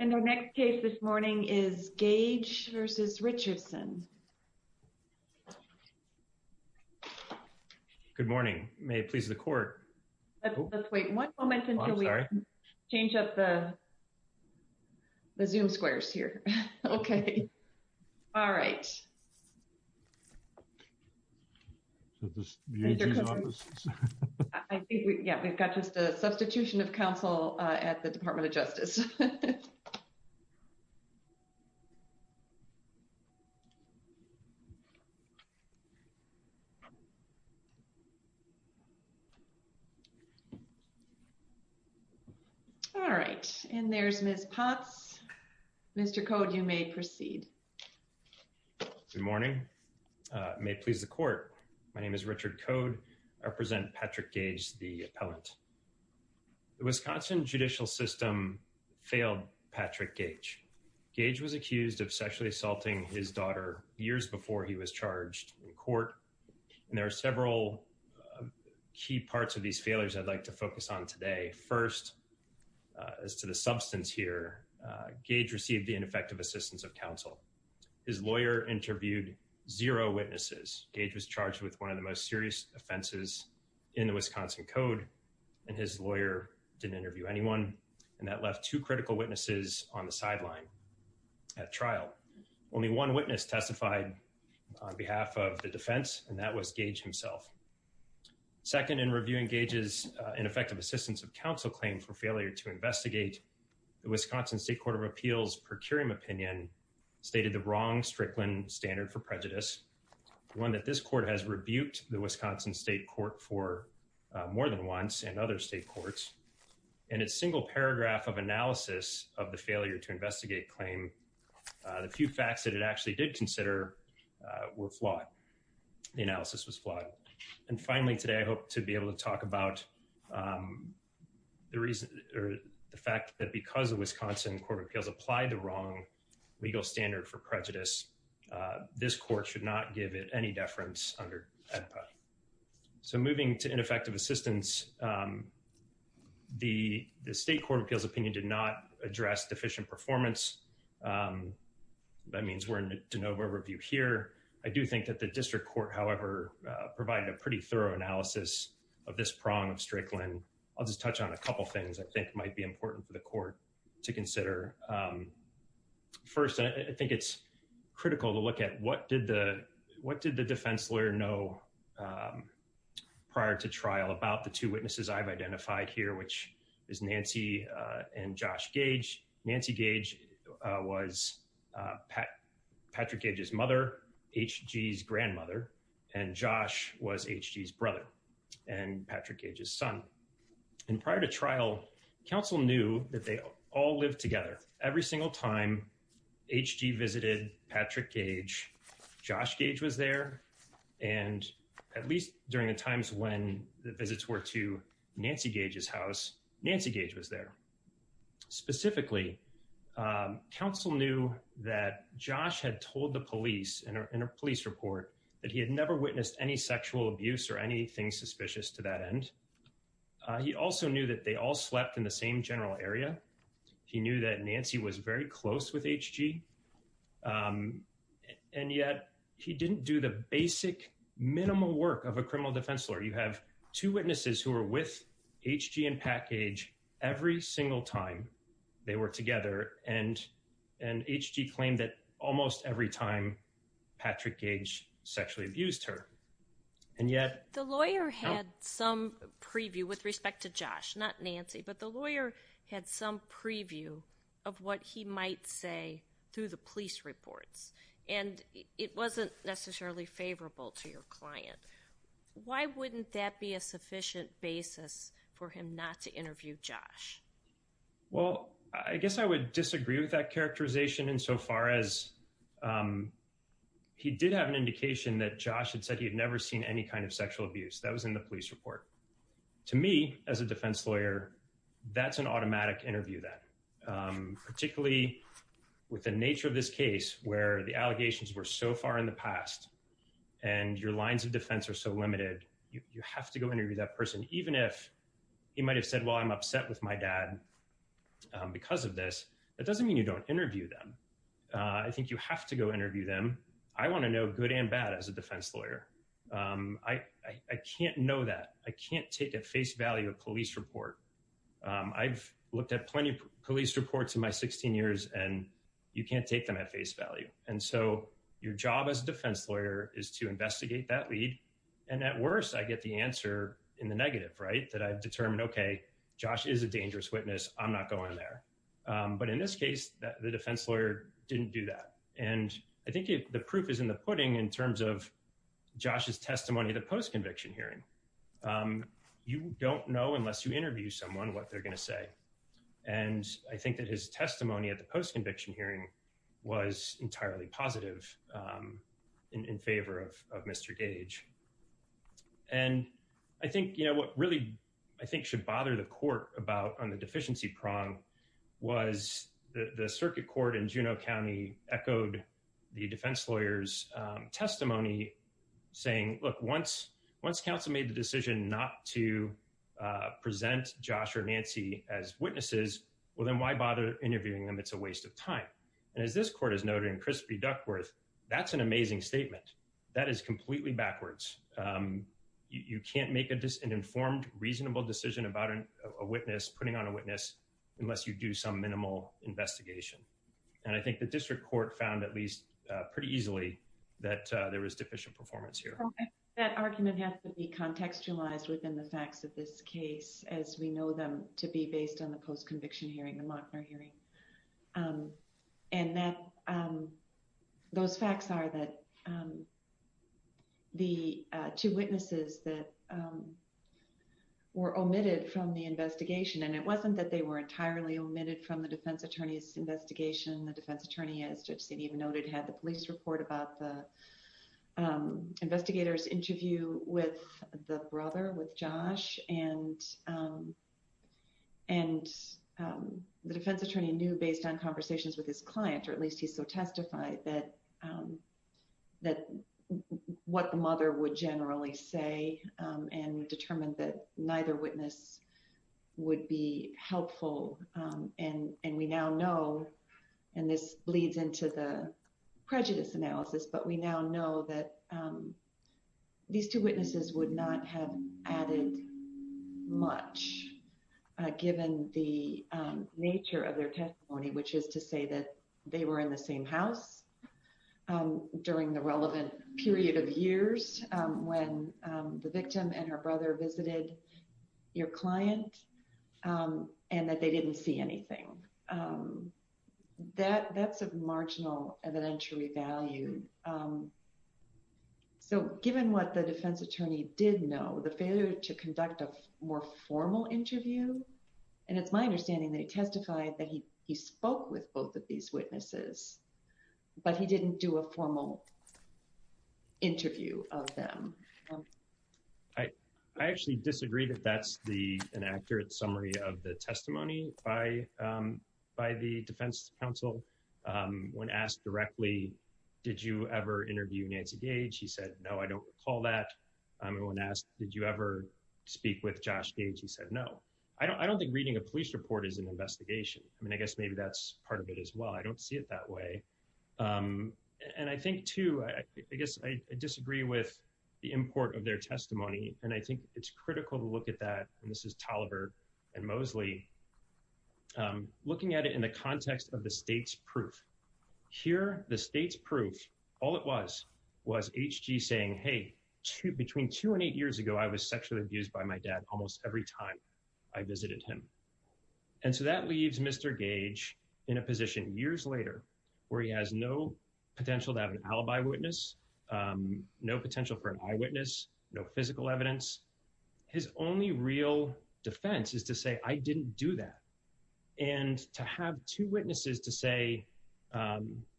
In our next case this morning is Gage v. Richardson. Good morning. May it please the court. Let's wait one moment until we change up the Zoom squares here. Okay. All right. Yeah, we've got just a substitution of counsel at the Department of Justice. All right, and there's Ms. Potts. Mr. Code, you may proceed. Good morning. May it please the court. My name is Richard Code. I represent Patrick Gage, the appellant. The Wisconsin judicial system failed Patrick Gage. Gage was accused of sexually assaulting his daughter years before he was charged in court, and there are several key parts of these failures I'd like to focus on today. First, as to the substance here, Gage received the ineffective assistance of counsel. His lawyer interviewed zero witnesses. Gage was charged with one of the most serious offenses in the Wisconsin code, and his lawyer didn't interview anyone, and that left two critical witnesses on the sideline at trial. Only one witness testified on behalf of the defense, and that was Gage himself. Second, in reviewing Gage's ineffective assistance of counsel claim for failure to investigate, the Wisconsin State Court of Appeals' per curiam opinion stated the wrong Strickland standard for prejudice, one that this court has rebuked the Wisconsin State Court for more than once and other state courts, and its single paragraph of analysis of the failure to investigate claim, the few facts that it actually did consider were flawed. The analysis was flawed. And finally today, I hope to be able to talk about the reason or the fact that because the Wisconsin Court of Appeals applied the wrong legal standard for prejudice, this court should not give it any deference under AEDPA. So moving to ineffective assistance, the State Court of Appeals' opinion did not address deficient performance. That means we're in a de novo review here. I do think that the district court, however, provided a pretty thorough analysis of this prong of Strickland. I'll just touch on a couple of things I think might be important for the court to consider. First, I think it's critical to look at what did the defense lawyer know prior to trial about the two witnesses I've identified here, which is Nancy and Josh Gage. Nancy Gage was Patrick Gage's mother, H.G.'s grandmother, and Josh was H.G.'s brother and Patrick Gage's son. And prior to trial, counsel knew that they all lived together. Every single time H.G. visited Patrick Gage, Josh Gage was there. And at least during the times when the visits were to Nancy Gage's house, Nancy Gage was there. Specifically, counsel knew that Josh had told the police in a police report that he had never witnessed any sexual abuse or anything suspicious to that end. He also knew that they all slept in the same general area. He knew that Nancy was very close with H.G., and yet he didn't do the basic minimal work of a criminal defense lawyer. You have two witnesses who are with H.G. and Patrick Gage every single time they were together, and H.G. claimed that almost every time Patrick Gage sexually abused her. And yet— The lawyer had some preview with respect to Josh, not Nancy, but the lawyer had some preview of what he might say through the police reports. And it wasn't necessarily favorable to your client. Why wouldn't that be a sufficient basis for him not to interview Josh? Well, I guess I would disagree with that characterization insofar as he did have an indication that Josh had said he had never seen any kind of sexual abuse. That was in the police report. To me, as a defense lawyer, that's an automatic interview then, particularly with the nature of this case where the allegations were so far in the past and your lines of defense are so limited, you have to go interview that person. Even if he might have said, well, I'm upset with my dad because of this, that doesn't mean you don't interview them. I think you have to go interview them. I want to know good and bad as a defense lawyer. I can't know that. I can't take at face value a police report. I've looked at plenty of police reports in my 16 years and you can't take them at face value. And so your job as a defense lawyer is to investigate that lead. And at worst, I get the answer in the negative, right, that I've determined, OK, Josh is a dangerous witness. I'm not going there. But in this case, the defense lawyer didn't do that. And I think the proof is in the pudding in terms of Josh's testimony, the post conviction hearing. You don't know unless you interview someone what they're going to say. And I think that his testimony at the post conviction hearing was entirely positive in favor of Mr. Gage. And I think what really I think should bother the court about on the deficiency prong was the circuit court in Juneau County echoed the defense lawyer's testimony saying, look, once once counsel made the decision not to present Josh or Nancy as witnesses, well, then why bother interviewing them? It's a waste of time. And as this court is noting, Crispy Duckworth, that's an amazing statement. That is completely backwards. You can't make an informed, reasonable decision about a witness, putting on a witness unless you do some minimal investigation. And I think the district court found at least pretty easily that there was deficient performance here. That argument has to be contextualized within the facts of this case, as we know them to be based on the post conviction hearing, the Mockner hearing. And that those facts are that the two witnesses that were omitted from the investigation and it wasn't that they were entirely omitted from the defense attorney's investigation. The defense attorney, as just even noted, had the police report about the investigators interview with the brother, with Josh and and the defense attorney knew based on conversations with his client, or at least he so testified that that what the mother would generally say and determined that neither witness would be helpful. And and we now know and this bleeds into the prejudice analysis, but we now know that these two witnesses would not have added much given the nature of their testimony, which is to say that they were in the same house during the relevant period of years when the didn't see anything that that's a marginal evidentiary value. So given what the defense attorney did know, the failure to conduct a more formal interview, and it's my understanding that he testified that he he spoke with both of these witnesses, but he didn't do a formal interview of them. I I actually disagree that that's the an accurate summary of the testimony by by the defense counsel when asked directly, did you ever interview Nancy Gage? He said, no, I don't recall that. When asked, did you ever speak with Josh Gage? He said, no, I don't I don't think reading a police report is an investigation. I mean, I guess maybe that's part of it as well. I don't see it that way. And I think, too, I guess I disagree with the import of their testimony, and I think it's critical to look at that, and this is Toliver and Mosley looking at it in the context of the state's proof here, the state's proof. All it was was saying, hey, between two and eight years ago, I was sexually abused by my dad almost every time I visited him. And so that leaves Mr. Gage in a position years later where he has no potential to have an alibi witness, no potential for an eyewitness, no physical evidence. His only real defense is to say, I didn't do that. And to have two witnesses to say,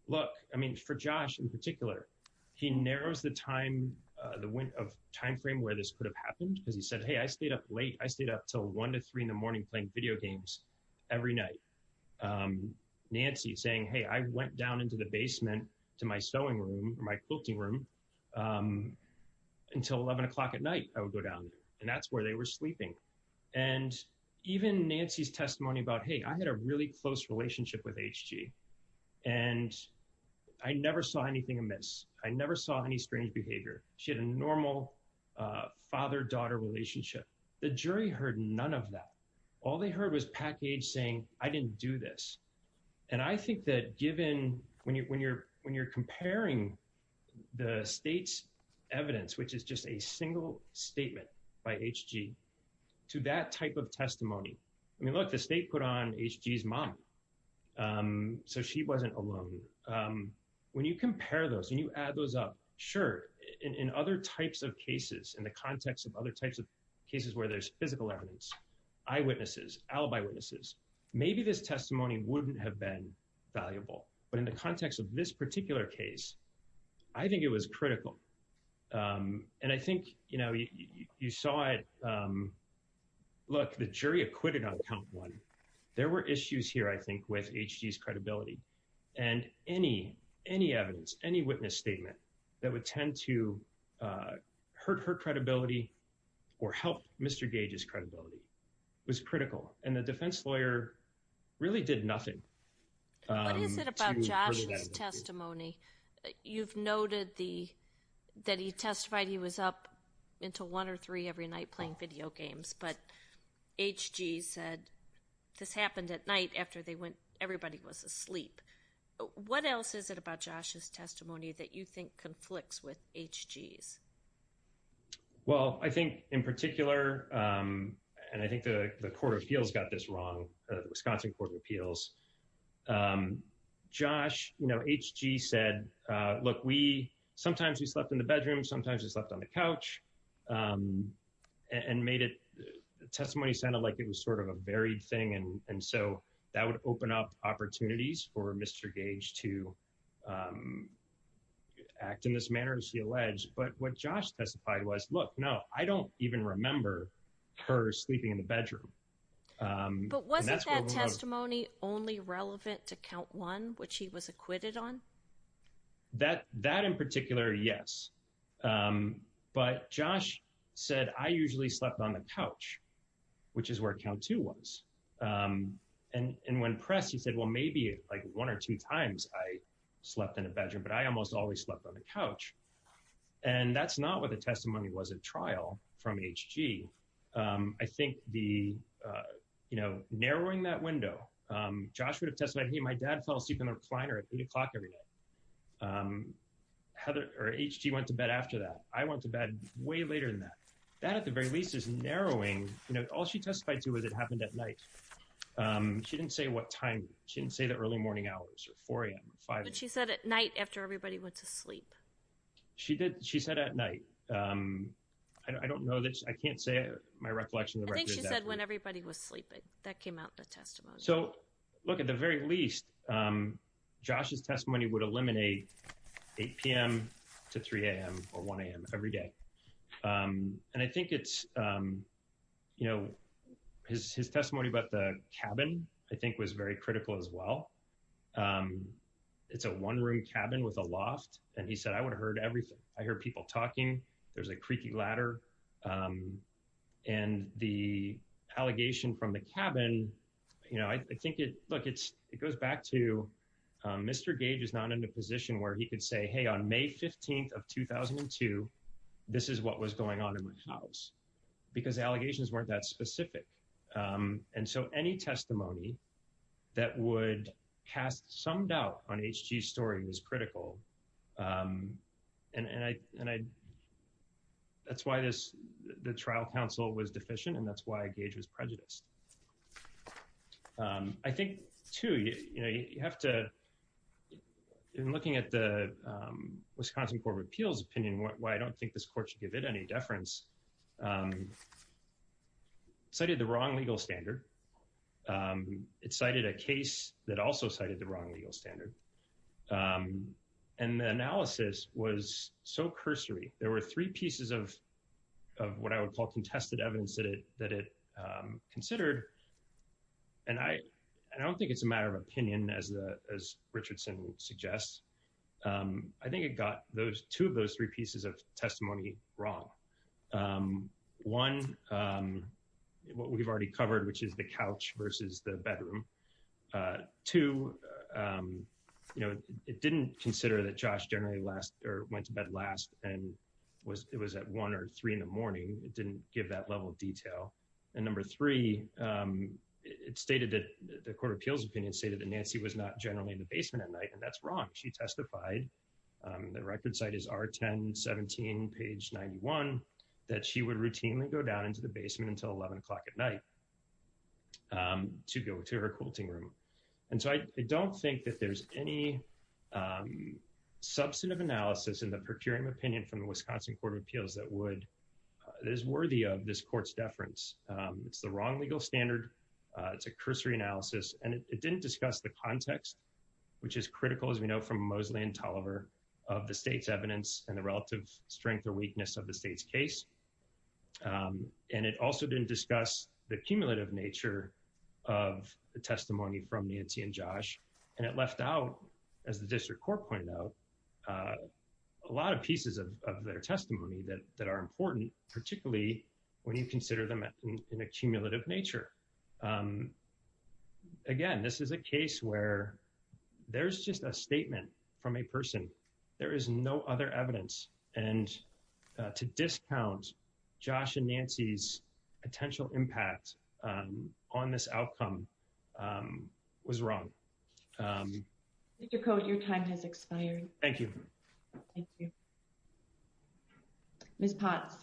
look, I mean, for Josh in particular, he narrows the time of time frame where this could have happened because he said, hey, I stayed up late. I stayed up till one to three in the morning playing video games every night. Nancy saying, hey, I went down into the basement to my sewing room, my quilting room until eleven o'clock at night. I would go down there and that's where they were sleeping. And even Nancy's testimony about, hey, I had a really close relationship with H.G. And I never saw anything amiss. I never saw any strange behavior. She had a normal father-daughter relationship. The jury heard none of that. All they heard was Package saying, I didn't do this. And I think that given when you're when you're when you're comparing the state's evidence, which is just a single statement by H.G. to that type of testimony, I mean, look, the state put on H.G.'s mom. So she wasn't alone. When you compare those and you add those up, sure, in other types of cases, in the context of other types of cases where there's physical evidence, eyewitnesses, alibi witnesses, maybe this testimony wouldn't have been valuable. But in the context of this particular case, I think it was critical. And I think, you know, you saw it. Look, the jury acquitted on count one. There were issues here, I think, with H.G.'s credibility and any any evidence, any witness statement that would tend to hurt her credibility or help Mr. Gage's credibility was critical. And the defense lawyer really did nothing. What is it about Josh's testimony? You've noted the that he testified he was up until one or three every night playing video games. But H.G. said this happened at night after they went. Everybody was asleep. What else is it about Josh's testimony that you think conflicts with H.G.'s? Well, I think in particular, and I think the Court of Appeals got this wrong, the Wisconsin Court of Appeals, Josh, you know, H.G. said, look, we sometimes we slept in the bedroom, sometimes we slept on the couch and made it testimony sounded like it was sort of a varied thing. And so that would open up opportunities for Mr. Gage to act in this manner, as he alleged. But what Josh testified was, look, no, I don't even remember her sleeping in the bedroom. But wasn't that testimony only relevant to count one, which he was acquitted on? That that in particular, yes, but Josh said, I usually slept on the couch, which is where count two was. And when pressed, he said, well, maybe like one or two times I slept in a bedroom, but I almost always slept on the couch. And that's not what the testimony was a trial from H.G. I think the, you know, narrowing that window, Josh would have testified, hey, my dad fell asleep in the recliner at eight o'clock every night. Heather or H.G. went to bed after that. I went to bed way later than that. That, at the very least, is narrowing. All she testified to was it happened at night. She didn't say what time. She didn't say the early morning hours or 4 a.m. or 5 a.m. She said at night after everybody went to sleep. She did. She said at night. I don't know that I can't say my recollection. I think she said when everybody was sleeping, that came out in the testimony. So look, at the very least, Josh's testimony would eliminate 8 p.m. to 3 a.m. or 1 a.m. every day. And I think it's, you know, his testimony about the cabin, I think, was very critical as well. It's a one-room cabin with a loft. And he said, I would have heard everything. I heard people talking. There's a creaky ladder. And the allegation from the cabin, you know, I think it, look, it goes back to Mr. Gage is not in a position where he could say, hey, on May 15th of 2002, this is what was in the house, because the allegations weren't that specific. And so any testimony that would cast some doubt on H.G.'s story is critical. And I, that's why this, the trial counsel was deficient, and that's why Gage was prejudiced. I think, too, you have to, in looking at the Wisconsin Court of Appeals opinion, why I don't think this court should give it any deference, cited the wrong legal standard. It cited a case that also cited the wrong legal standard. And the analysis was so cursory. There were three pieces of what I would call contested evidence that it considered. And I don't think it's a matter of opinion, as Richardson suggests. I think it got those, two of those three pieces of testimony wrong. One, what we've already covered, which is the couch versus the bedroom. Two, you know, it didn't consider that Josh generally last, or went to bed last and was, it was at one or three in the morning. It didn't give that level of detail. And number three, it stated that the Court of Appeals opinion stated that Nancy was not generally in the basement at night, and that's wrong. She testified, the record site is R-10, 17, page 91, that she would routinely go down into the basement until 11 o'clock at night to go to her quilting room. And so I don't think that there's any substantive analysis in the procuring opinion from the Wisconsin Court of Appeals that would, that is worthy of this court's deference. It's the wrong legal standard. It's a cursory analysis and it didn't discuss the context, which is critical, as we know from Mosley and Tolliver, of the state's evidence and the relative strength or weakness of the state's case. And it also didn't discuss the cumulative nature of the testimony from Nancy and Josh. And it left out, as the district court pointed out, a lot of pieces of their testimony that are important, particularly when you consider them in a cumulative nature. Again, this is a case where there's just a statement from a person. There is no other evidence. And to discount Josh and Nancy's potential impact on this outcome was wrong. Mr. Cote, your time has expired. Thank you. Thank you. Ms. Potts.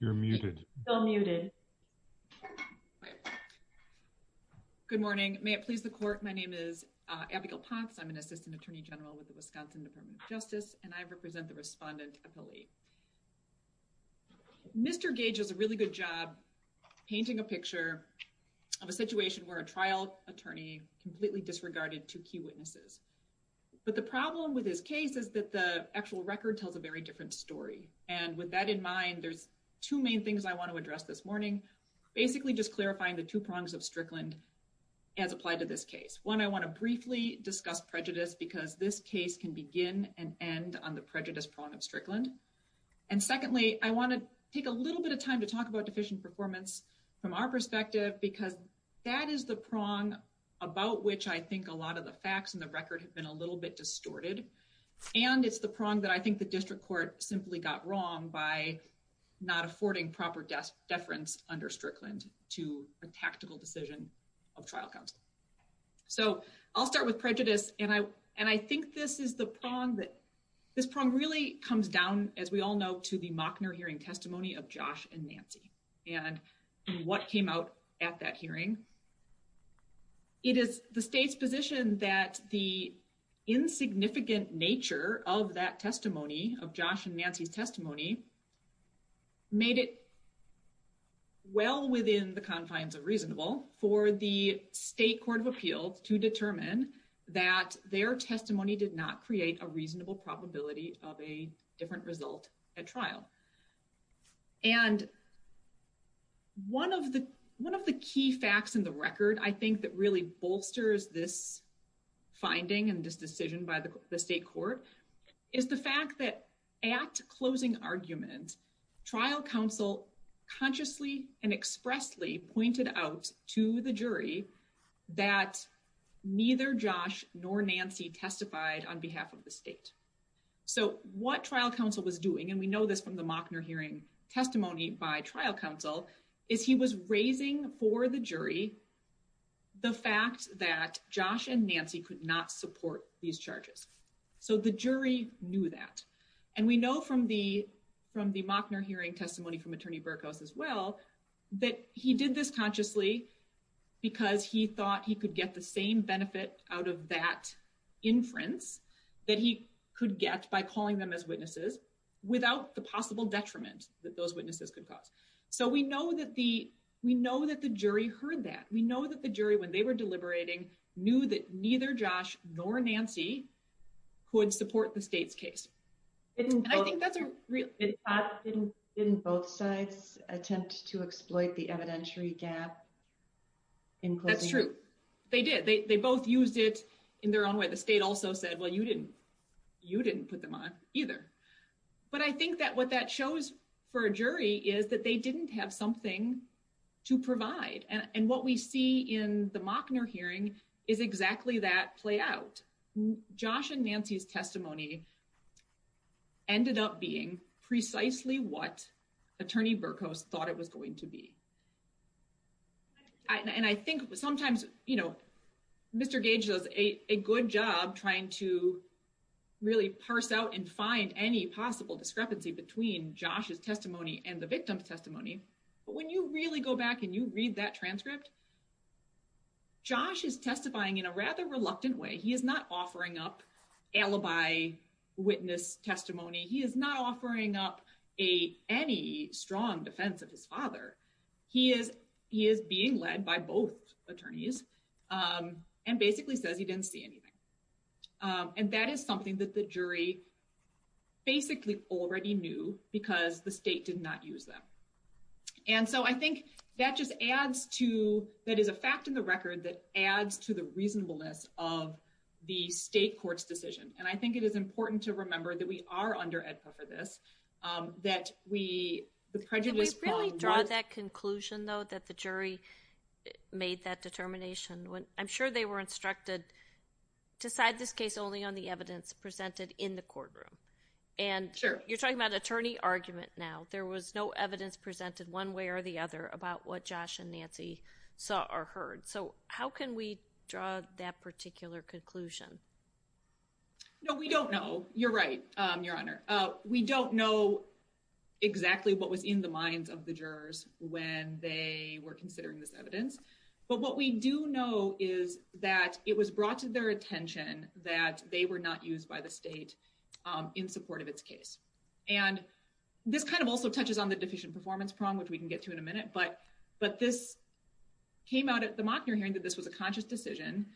You're muted. Still muted. Good morning. May it please the court. My name is Abigail Potts. I'm an assistant attorney general with the Wisconsin Department of Justice, and I represent the respondent appellee. Mr. Gage does a really good job painting a picture of a situation where a trial attorney completely disregarded two key witnesses. But the problem with this case is that the actual record tells a very different story. And with that in mind, there's two main things I want to address this morning. Basically, just clarifying the two prongs of Strickland as applied to this case. One, I want to briefly discuss prejudice because this case can begin and end on the prejudice prong of Strickland. And secondly, I want to take a little bit of time to talk about deficient performance from our perspective, because that is the prong about which I think a lot of the facts and the record have been a little bit distorted. And it's the prong that I think the district court simply got wrong by not affording proper deference under Strickland to a tactical decision of trial counsel. So I'll start with prejudice. And I and I think this is the prong that this prong really comes down, as we all know, to the Mockner hearing testimony of Josh and Nancy and what came out at that hearing. It is the state's position that the insignificant nature of that testimony of Josh and Nancy's testimony made it well within the confines of reasonable for the state court of appeals to determine that their testimony did not create a reasonable And one of the one of the key facts in the record, I think, that really bolsters this finding and this decision by the state court is the fact that at closing argument, trial counsel consciously and expressly pointed out to the jury that neither Josh nor Nancy testified on behalf of the state. So what trial counsel was doing, and we know this from the Mockner hearing testimony by trial counsel, is he was raising for the jury the fact that Josh and Nancy could not support these charges. So the jury knew that. And we know from the from the Mockner hearing testimony from Attorney Burkos as well, that he did this consciously because he thought he could get the same benefit out of that inference that he could get by calling them as witnesses without the possible detriment that those witnesses could cause. So we know that the we know that the jury heard that. We know that the jury, when they were deliberating, knew that neither Josh nor Nancy could support the state's case. And I think that's a real. Didn't both sides attempt to exploit the evidentiary gap? And that's true, they did, they both used it in their own way. The state also said, well, you didn't you didn't put them on either. But I think that what that shows for a jury is that they didn't have something to provide. And what we see in the Mockner hearing is exactly that play out. Josh and Nancy's testimony. Ended up being precisely what Attorney Burkos thought it was going to be. And I think sometimes, you know, Mr. Gage does a good job trying to really parse out and find any possible discrepancy between Josh's testimony and the victim's testimony. But when you really go back and you read that transcript. Josh is testifying in a rather reluctant way. He is not offering up alibi witness testimony. He is not offering up a any strong defense of his father. He is he is being led by both attorneys and basically says he didn't see anything. And that is something that the jury basically already knew because the state did not use them. And so I think that just adds to that is a fact in the record that adds to the reasonableness of the state court's decision. And I think it is important to remember that we are under EDPA for this, that we the prejudice. We really draw that conclusion, though, that the jury made that determination when I'm sure they were instructed to side this case only on the evidence presented in the courtroom. And you're talking about attorney argument now. There was no evidence presented one way or the other about what Josh and Nancy saw or heard. So how can we draw that particular conclusion? No, we don't know. You're right, Your Honor. We don't know exactly what was in the minds of the jurors when they were considering this evidence. But what we do know is that it was brought to their attention that they were not used by the state in support of its case. And this kind of also touches on the deficient performance prong, which we can get to in a minute. But this came out at the Mockner hearing that this was a conscious decision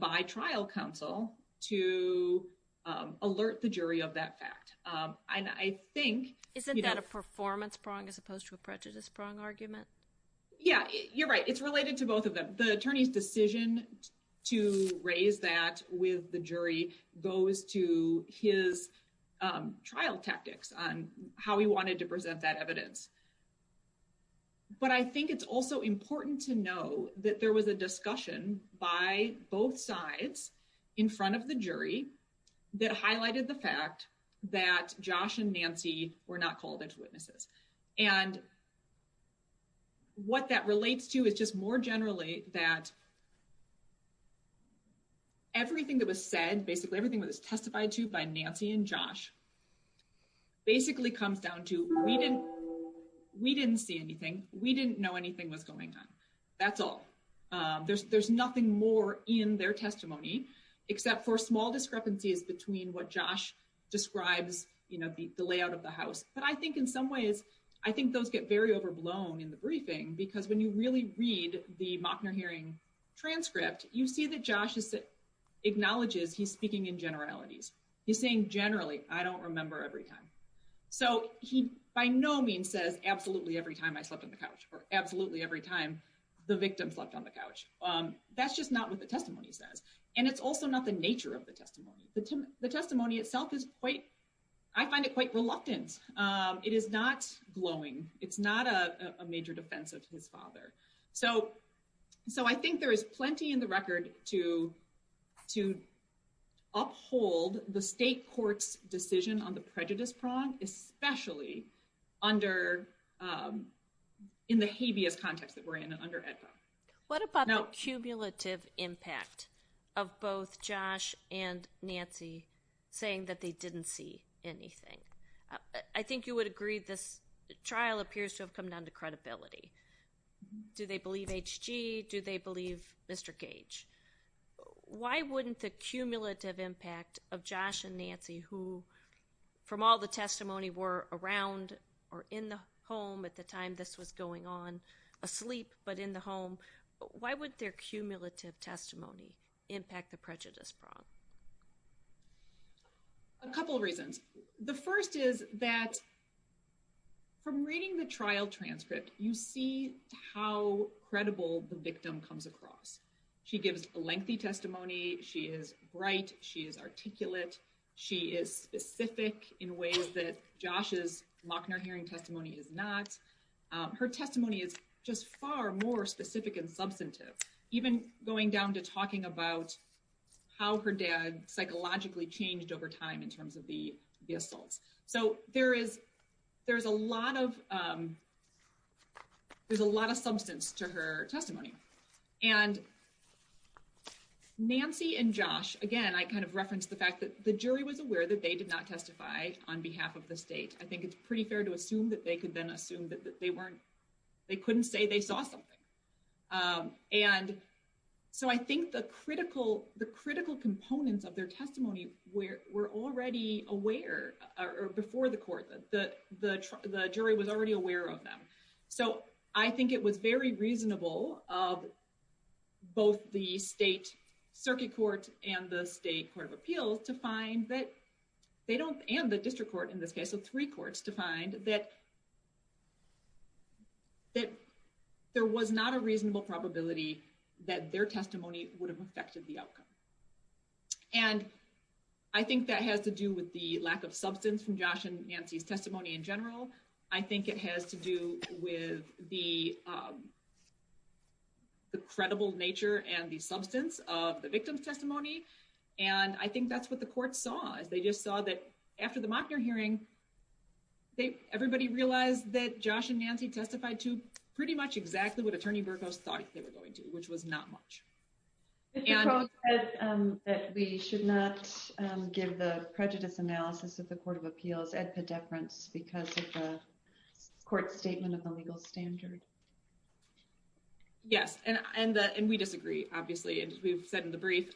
by trial counsel to alert the jury of that fact. And I think isn't that a performance prong as opposed to a prejudice prong argument? Yeah, you're right. It's related to both of them. The attorney's decision to raise that with the jury goes to his trial tactics on how he wanted to present that evidence. But I think it's also important to know that there was a discussion by both sides in front of the jury that highlighted the fact that Josh and Nancy were not called as witnesses. And what that relates to is just more generally that everything that was said, basically everything that was testified to by Nancy and Josh basically comes down to we didn't we didn't see anything. We didn't know anything was going on. That's all. There's nothing more in their testimony except for small discrepancies between what Josh describes, you know, the layout of the house. But I think in some ways, I think those get very overblown in the briefing, because when you really read the Mockner hearing transcript, you see that Josh acknowledges he's speaking in generalities. He's saying generally, I don't remember every time. So he by no means says absolutely every time I slept on the couch or absolutely every time the victim slept on the couch. That's just not what the testimony says. And it's also not the nature of the testimony. The testimony itself is quite, I find it quite reluctant. It is not glowing. It's not a major defense of his father. So so I think there is plenty in the record to to uphold the state court's decision on the prejudice prong, especially under in the habeas context that we're in and under EDPA. What about cumulative impact of both Josh and Nancy saying that they didn't see anything? I think you would agree this trial appears to have come down to credibility. Do they believe H.G.? Do they believe Mr. Gage? Why wouldn't the cumulative impact of Josh and Nancy, who from all the testimony were around or in the home at the time this was going on, asleep but in the home? Why would their cumulative testimony impact the prejudice prong? A couple of reasons. The first is that from reading the trial transcript, you see how credible the victim comes across. She gives a lengthy testimony. She is bright. She is articulate. She is specific in ways that Josh's Lochner hearing testimony is not. Her testimony is just far more specific and substantive. Even going down to talking about how her dad psychologically changed over time in terms of the assaults. So there is there's a lot of there's a lot of substance to her testimony. And Nancy and Josh, again, I kind of referenced the fact that the jury was aware that they did not testify on behalf of the state. I think it's pretty fair to assume that they could then assume that they weren't they couldn't say they saw something. And so I think the critical the critical components of their testimony were already aware or before the court that the jury was already aware of them. So I think it was very reasonable of both the state circuit court and the state court of appeals to find that they don't and the district court in this case of three courts to find that. That there was not a reasonable probability that their testimony would have affected the outcome. And I think that has to do with the lack of substance from Josh and Nancy's testimony in general. I think it has to do with the. The credible nature and the substance of the victim's testimony, and I think that's what the court saw is they just saw that after the Mockner hearing. They everybody realized that Josh and Nancy testified to pretty much exactly what attorney Burkos thought they were going to, which was not much. And that we should not give the prejudice analysis of the court of appeals at the difference because of the court statement of the legal standard. Yes, and and we disagree, obviously, and we've said in the brief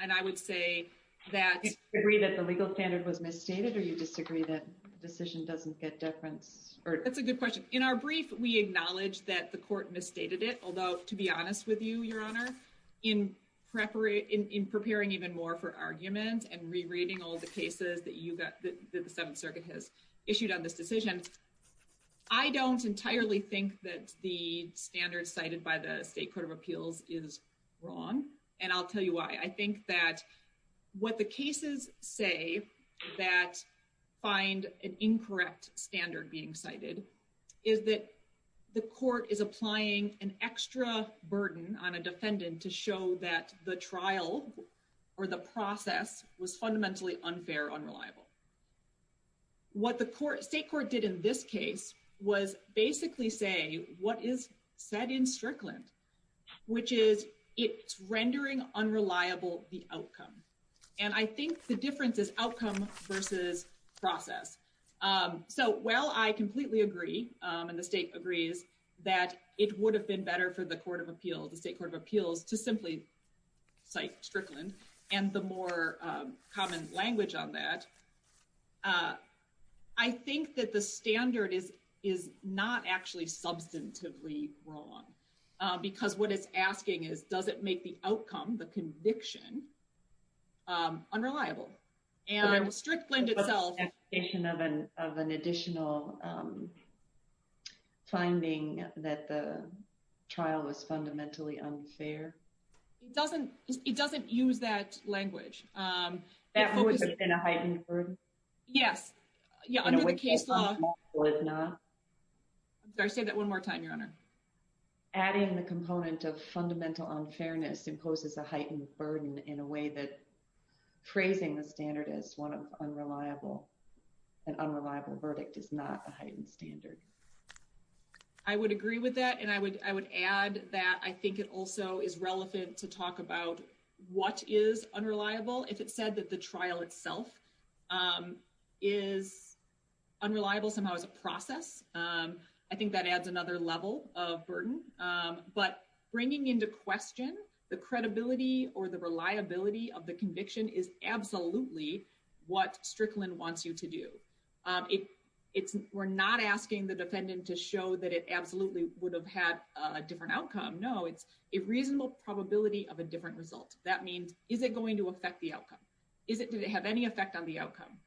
and I would say that agree that the legal standard was misstated or you disagree that decision doesn't get deference or it's a good question in our brief we acknowledge that the court misstated it, although, to be honest with you, your honor in preparing in preparing even more for argument and rereading all the cases that you got that the 7th circuit has issued on this decision. I don't entirely think that the standard cited by the state court of appeals is wrong and I'll tell you why I think that what the cases say that find an incorrect standard being cited. Is that the court is applying an extra burden on a defendant to show that the trial or the process was fundamentally unfair unreliable. What the court state court did in this case was basically say what is said in Strickland, which is it's rendering unreliable the outcome and I think the difference is outcome versus process. So, well, I completely agree and the state agrees that it would have been better for the court of appeals, the state court of appeals to simply cite Strickland and the more common language on that. I think that the standard is is not actually substantively wrong, because what it's asking is, does it make the outcome the conviction. Unreliable and strict blend itself of an of an additional. Finding that the trial was fundamentally unfair. It doesn't it doesn't use that language that would have been a heightened burden. Yes, yeah. Under the case law. I'm sorry say that one more time your honor. Adding the component of fundamental unfairness imposes a heightened burden in a way that praising the standard is one of unreliable and unreliable verdict is not a heightened standard. I would agree with that and I would, I would add that I think it also is relevant to talk about what is unreliable if it said that the trial itself. Is unreliable somehow as a process. I think that adds another level of burden, but bringing into question the credibility or the reliability of the conviction is absolutely what Strickland wants you to do. It it's we're not asking the defendant to show that it absolutely would have had a different outcome. No, it's a reasonable probability of a different result. That means, is it going to affect the outcome? Is it, did it have any effect on the outcome?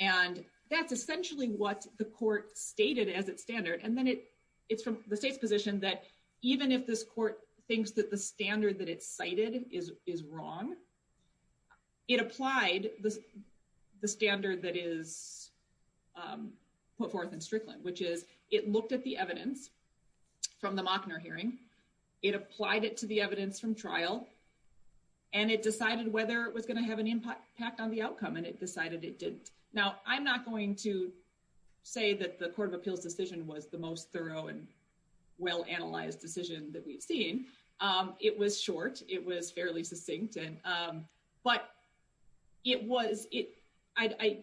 And that's essentially what the court stated as its standard. And then it it's from the state's position that even if this court thinks that the standard that it's cited is is wrong. It applied the standard that is put forth in Strickland, which is it looked at the evidence from the hearing. It applied it to the evidence from trial. And it decided whether it was going to have an impact on the outcome and it decided it didn't. Now, I'm not going to say that the Court of Appeals decision was the most thorough and well analyzed decision that we've seen it was short. It was fairly succinct. And but it was it. I, I,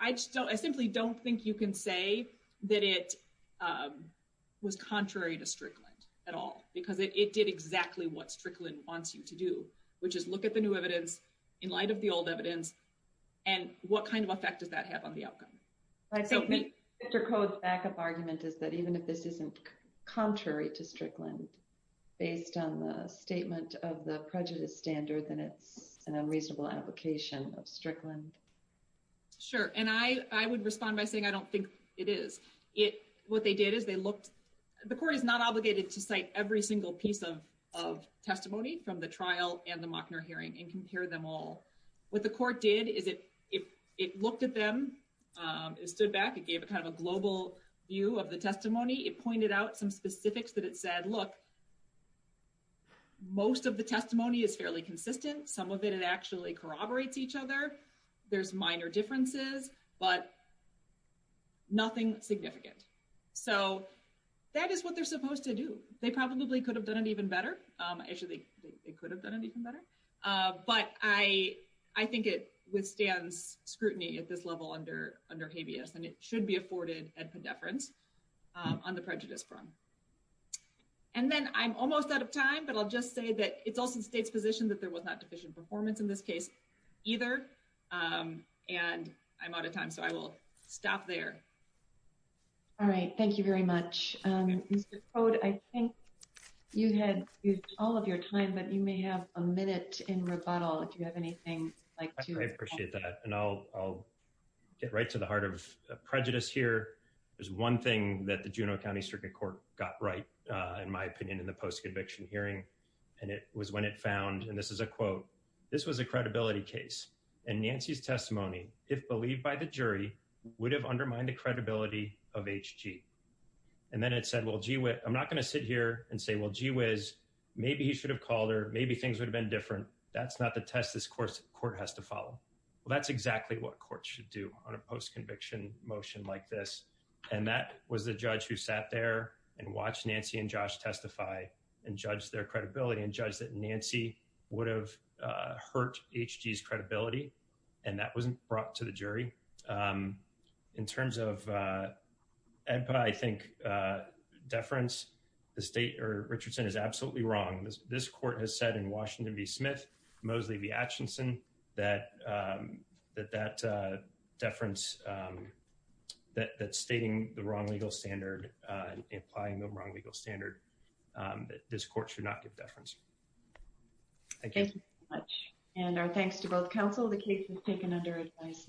I just don't I simply don't think you can say that it was contrary to Strickland at all, because it did exactly what Strickland wants you to do. Which is look at the new evidence in light of the old evidence and what kind of effect does that have on the outcome? I think Mr. Code's back up argument is that even if this isn't contrary to Strickland, based on the statement of the prejudice standard, then it's an unreasonable application of Strickland. Sure, and I, I would respond by saying, I don't think it is it. What they did is they looked. The court is not obligated to cite every single piece of of testimony from the trial and the Mockner hearing and compare them all. What the court did is it if it looked at them, it stood back and gave it kind of a global view of the testimony. It pointed out some specifics that it said, look. Most of the testimony is fairly consistent. Some of it, it actually corroborates each other. There's minor differences, but nothing significant. So that is what they're supposed to do. They probably could have done it even better. Actually, they could have done it even better. But I, I think it withstands scrutiny at this level under under habeas and it should be afforded at the deference on the prejudice front. And then I'm almost out of time, but I'll just say that it's also the state's position that there was not deficient performance in this case, either. And I'm out of time, so I will stop there. All right. Thank you very much. I think you had all of your time, but you may have a minute in rebuttal if you have anything like to appreciate that and I'll, I'll get right to the heart of prejudice here. There's one thing that the Juneau County Circuit Court got right, in my opinion, in the post-conviction hearing, and it was when it found, and this is a quote, this was a credibility case, and Nancy's testimony, if believed by the jury, would have undermined the credibility of HG. And then it said, well, gee, I'm not going to sit here and say, well, gee whiz, maybe he should have called her, maybe things would have been different. That's not the test this court has to follow. Well, that's exactly what courts should do on a post-conviction motion like this. And that was the judge who sat there and watched Nancy and Josh testify and judged their credibility and judged that Nancy would have hurt HG's credibility, and that wasn't brought to the jury. In terms of, I think, deference, the state, or Richardson, is absolutely wrong. This court has said in Washington v. Smith, Mosley v. Atchison, that that deference, that stating the wrong legal standard, implying the wrong legal standard, this court should not give deference. Thank you. Thank you very much, and our thanks to both counsel. The case was taken under advice.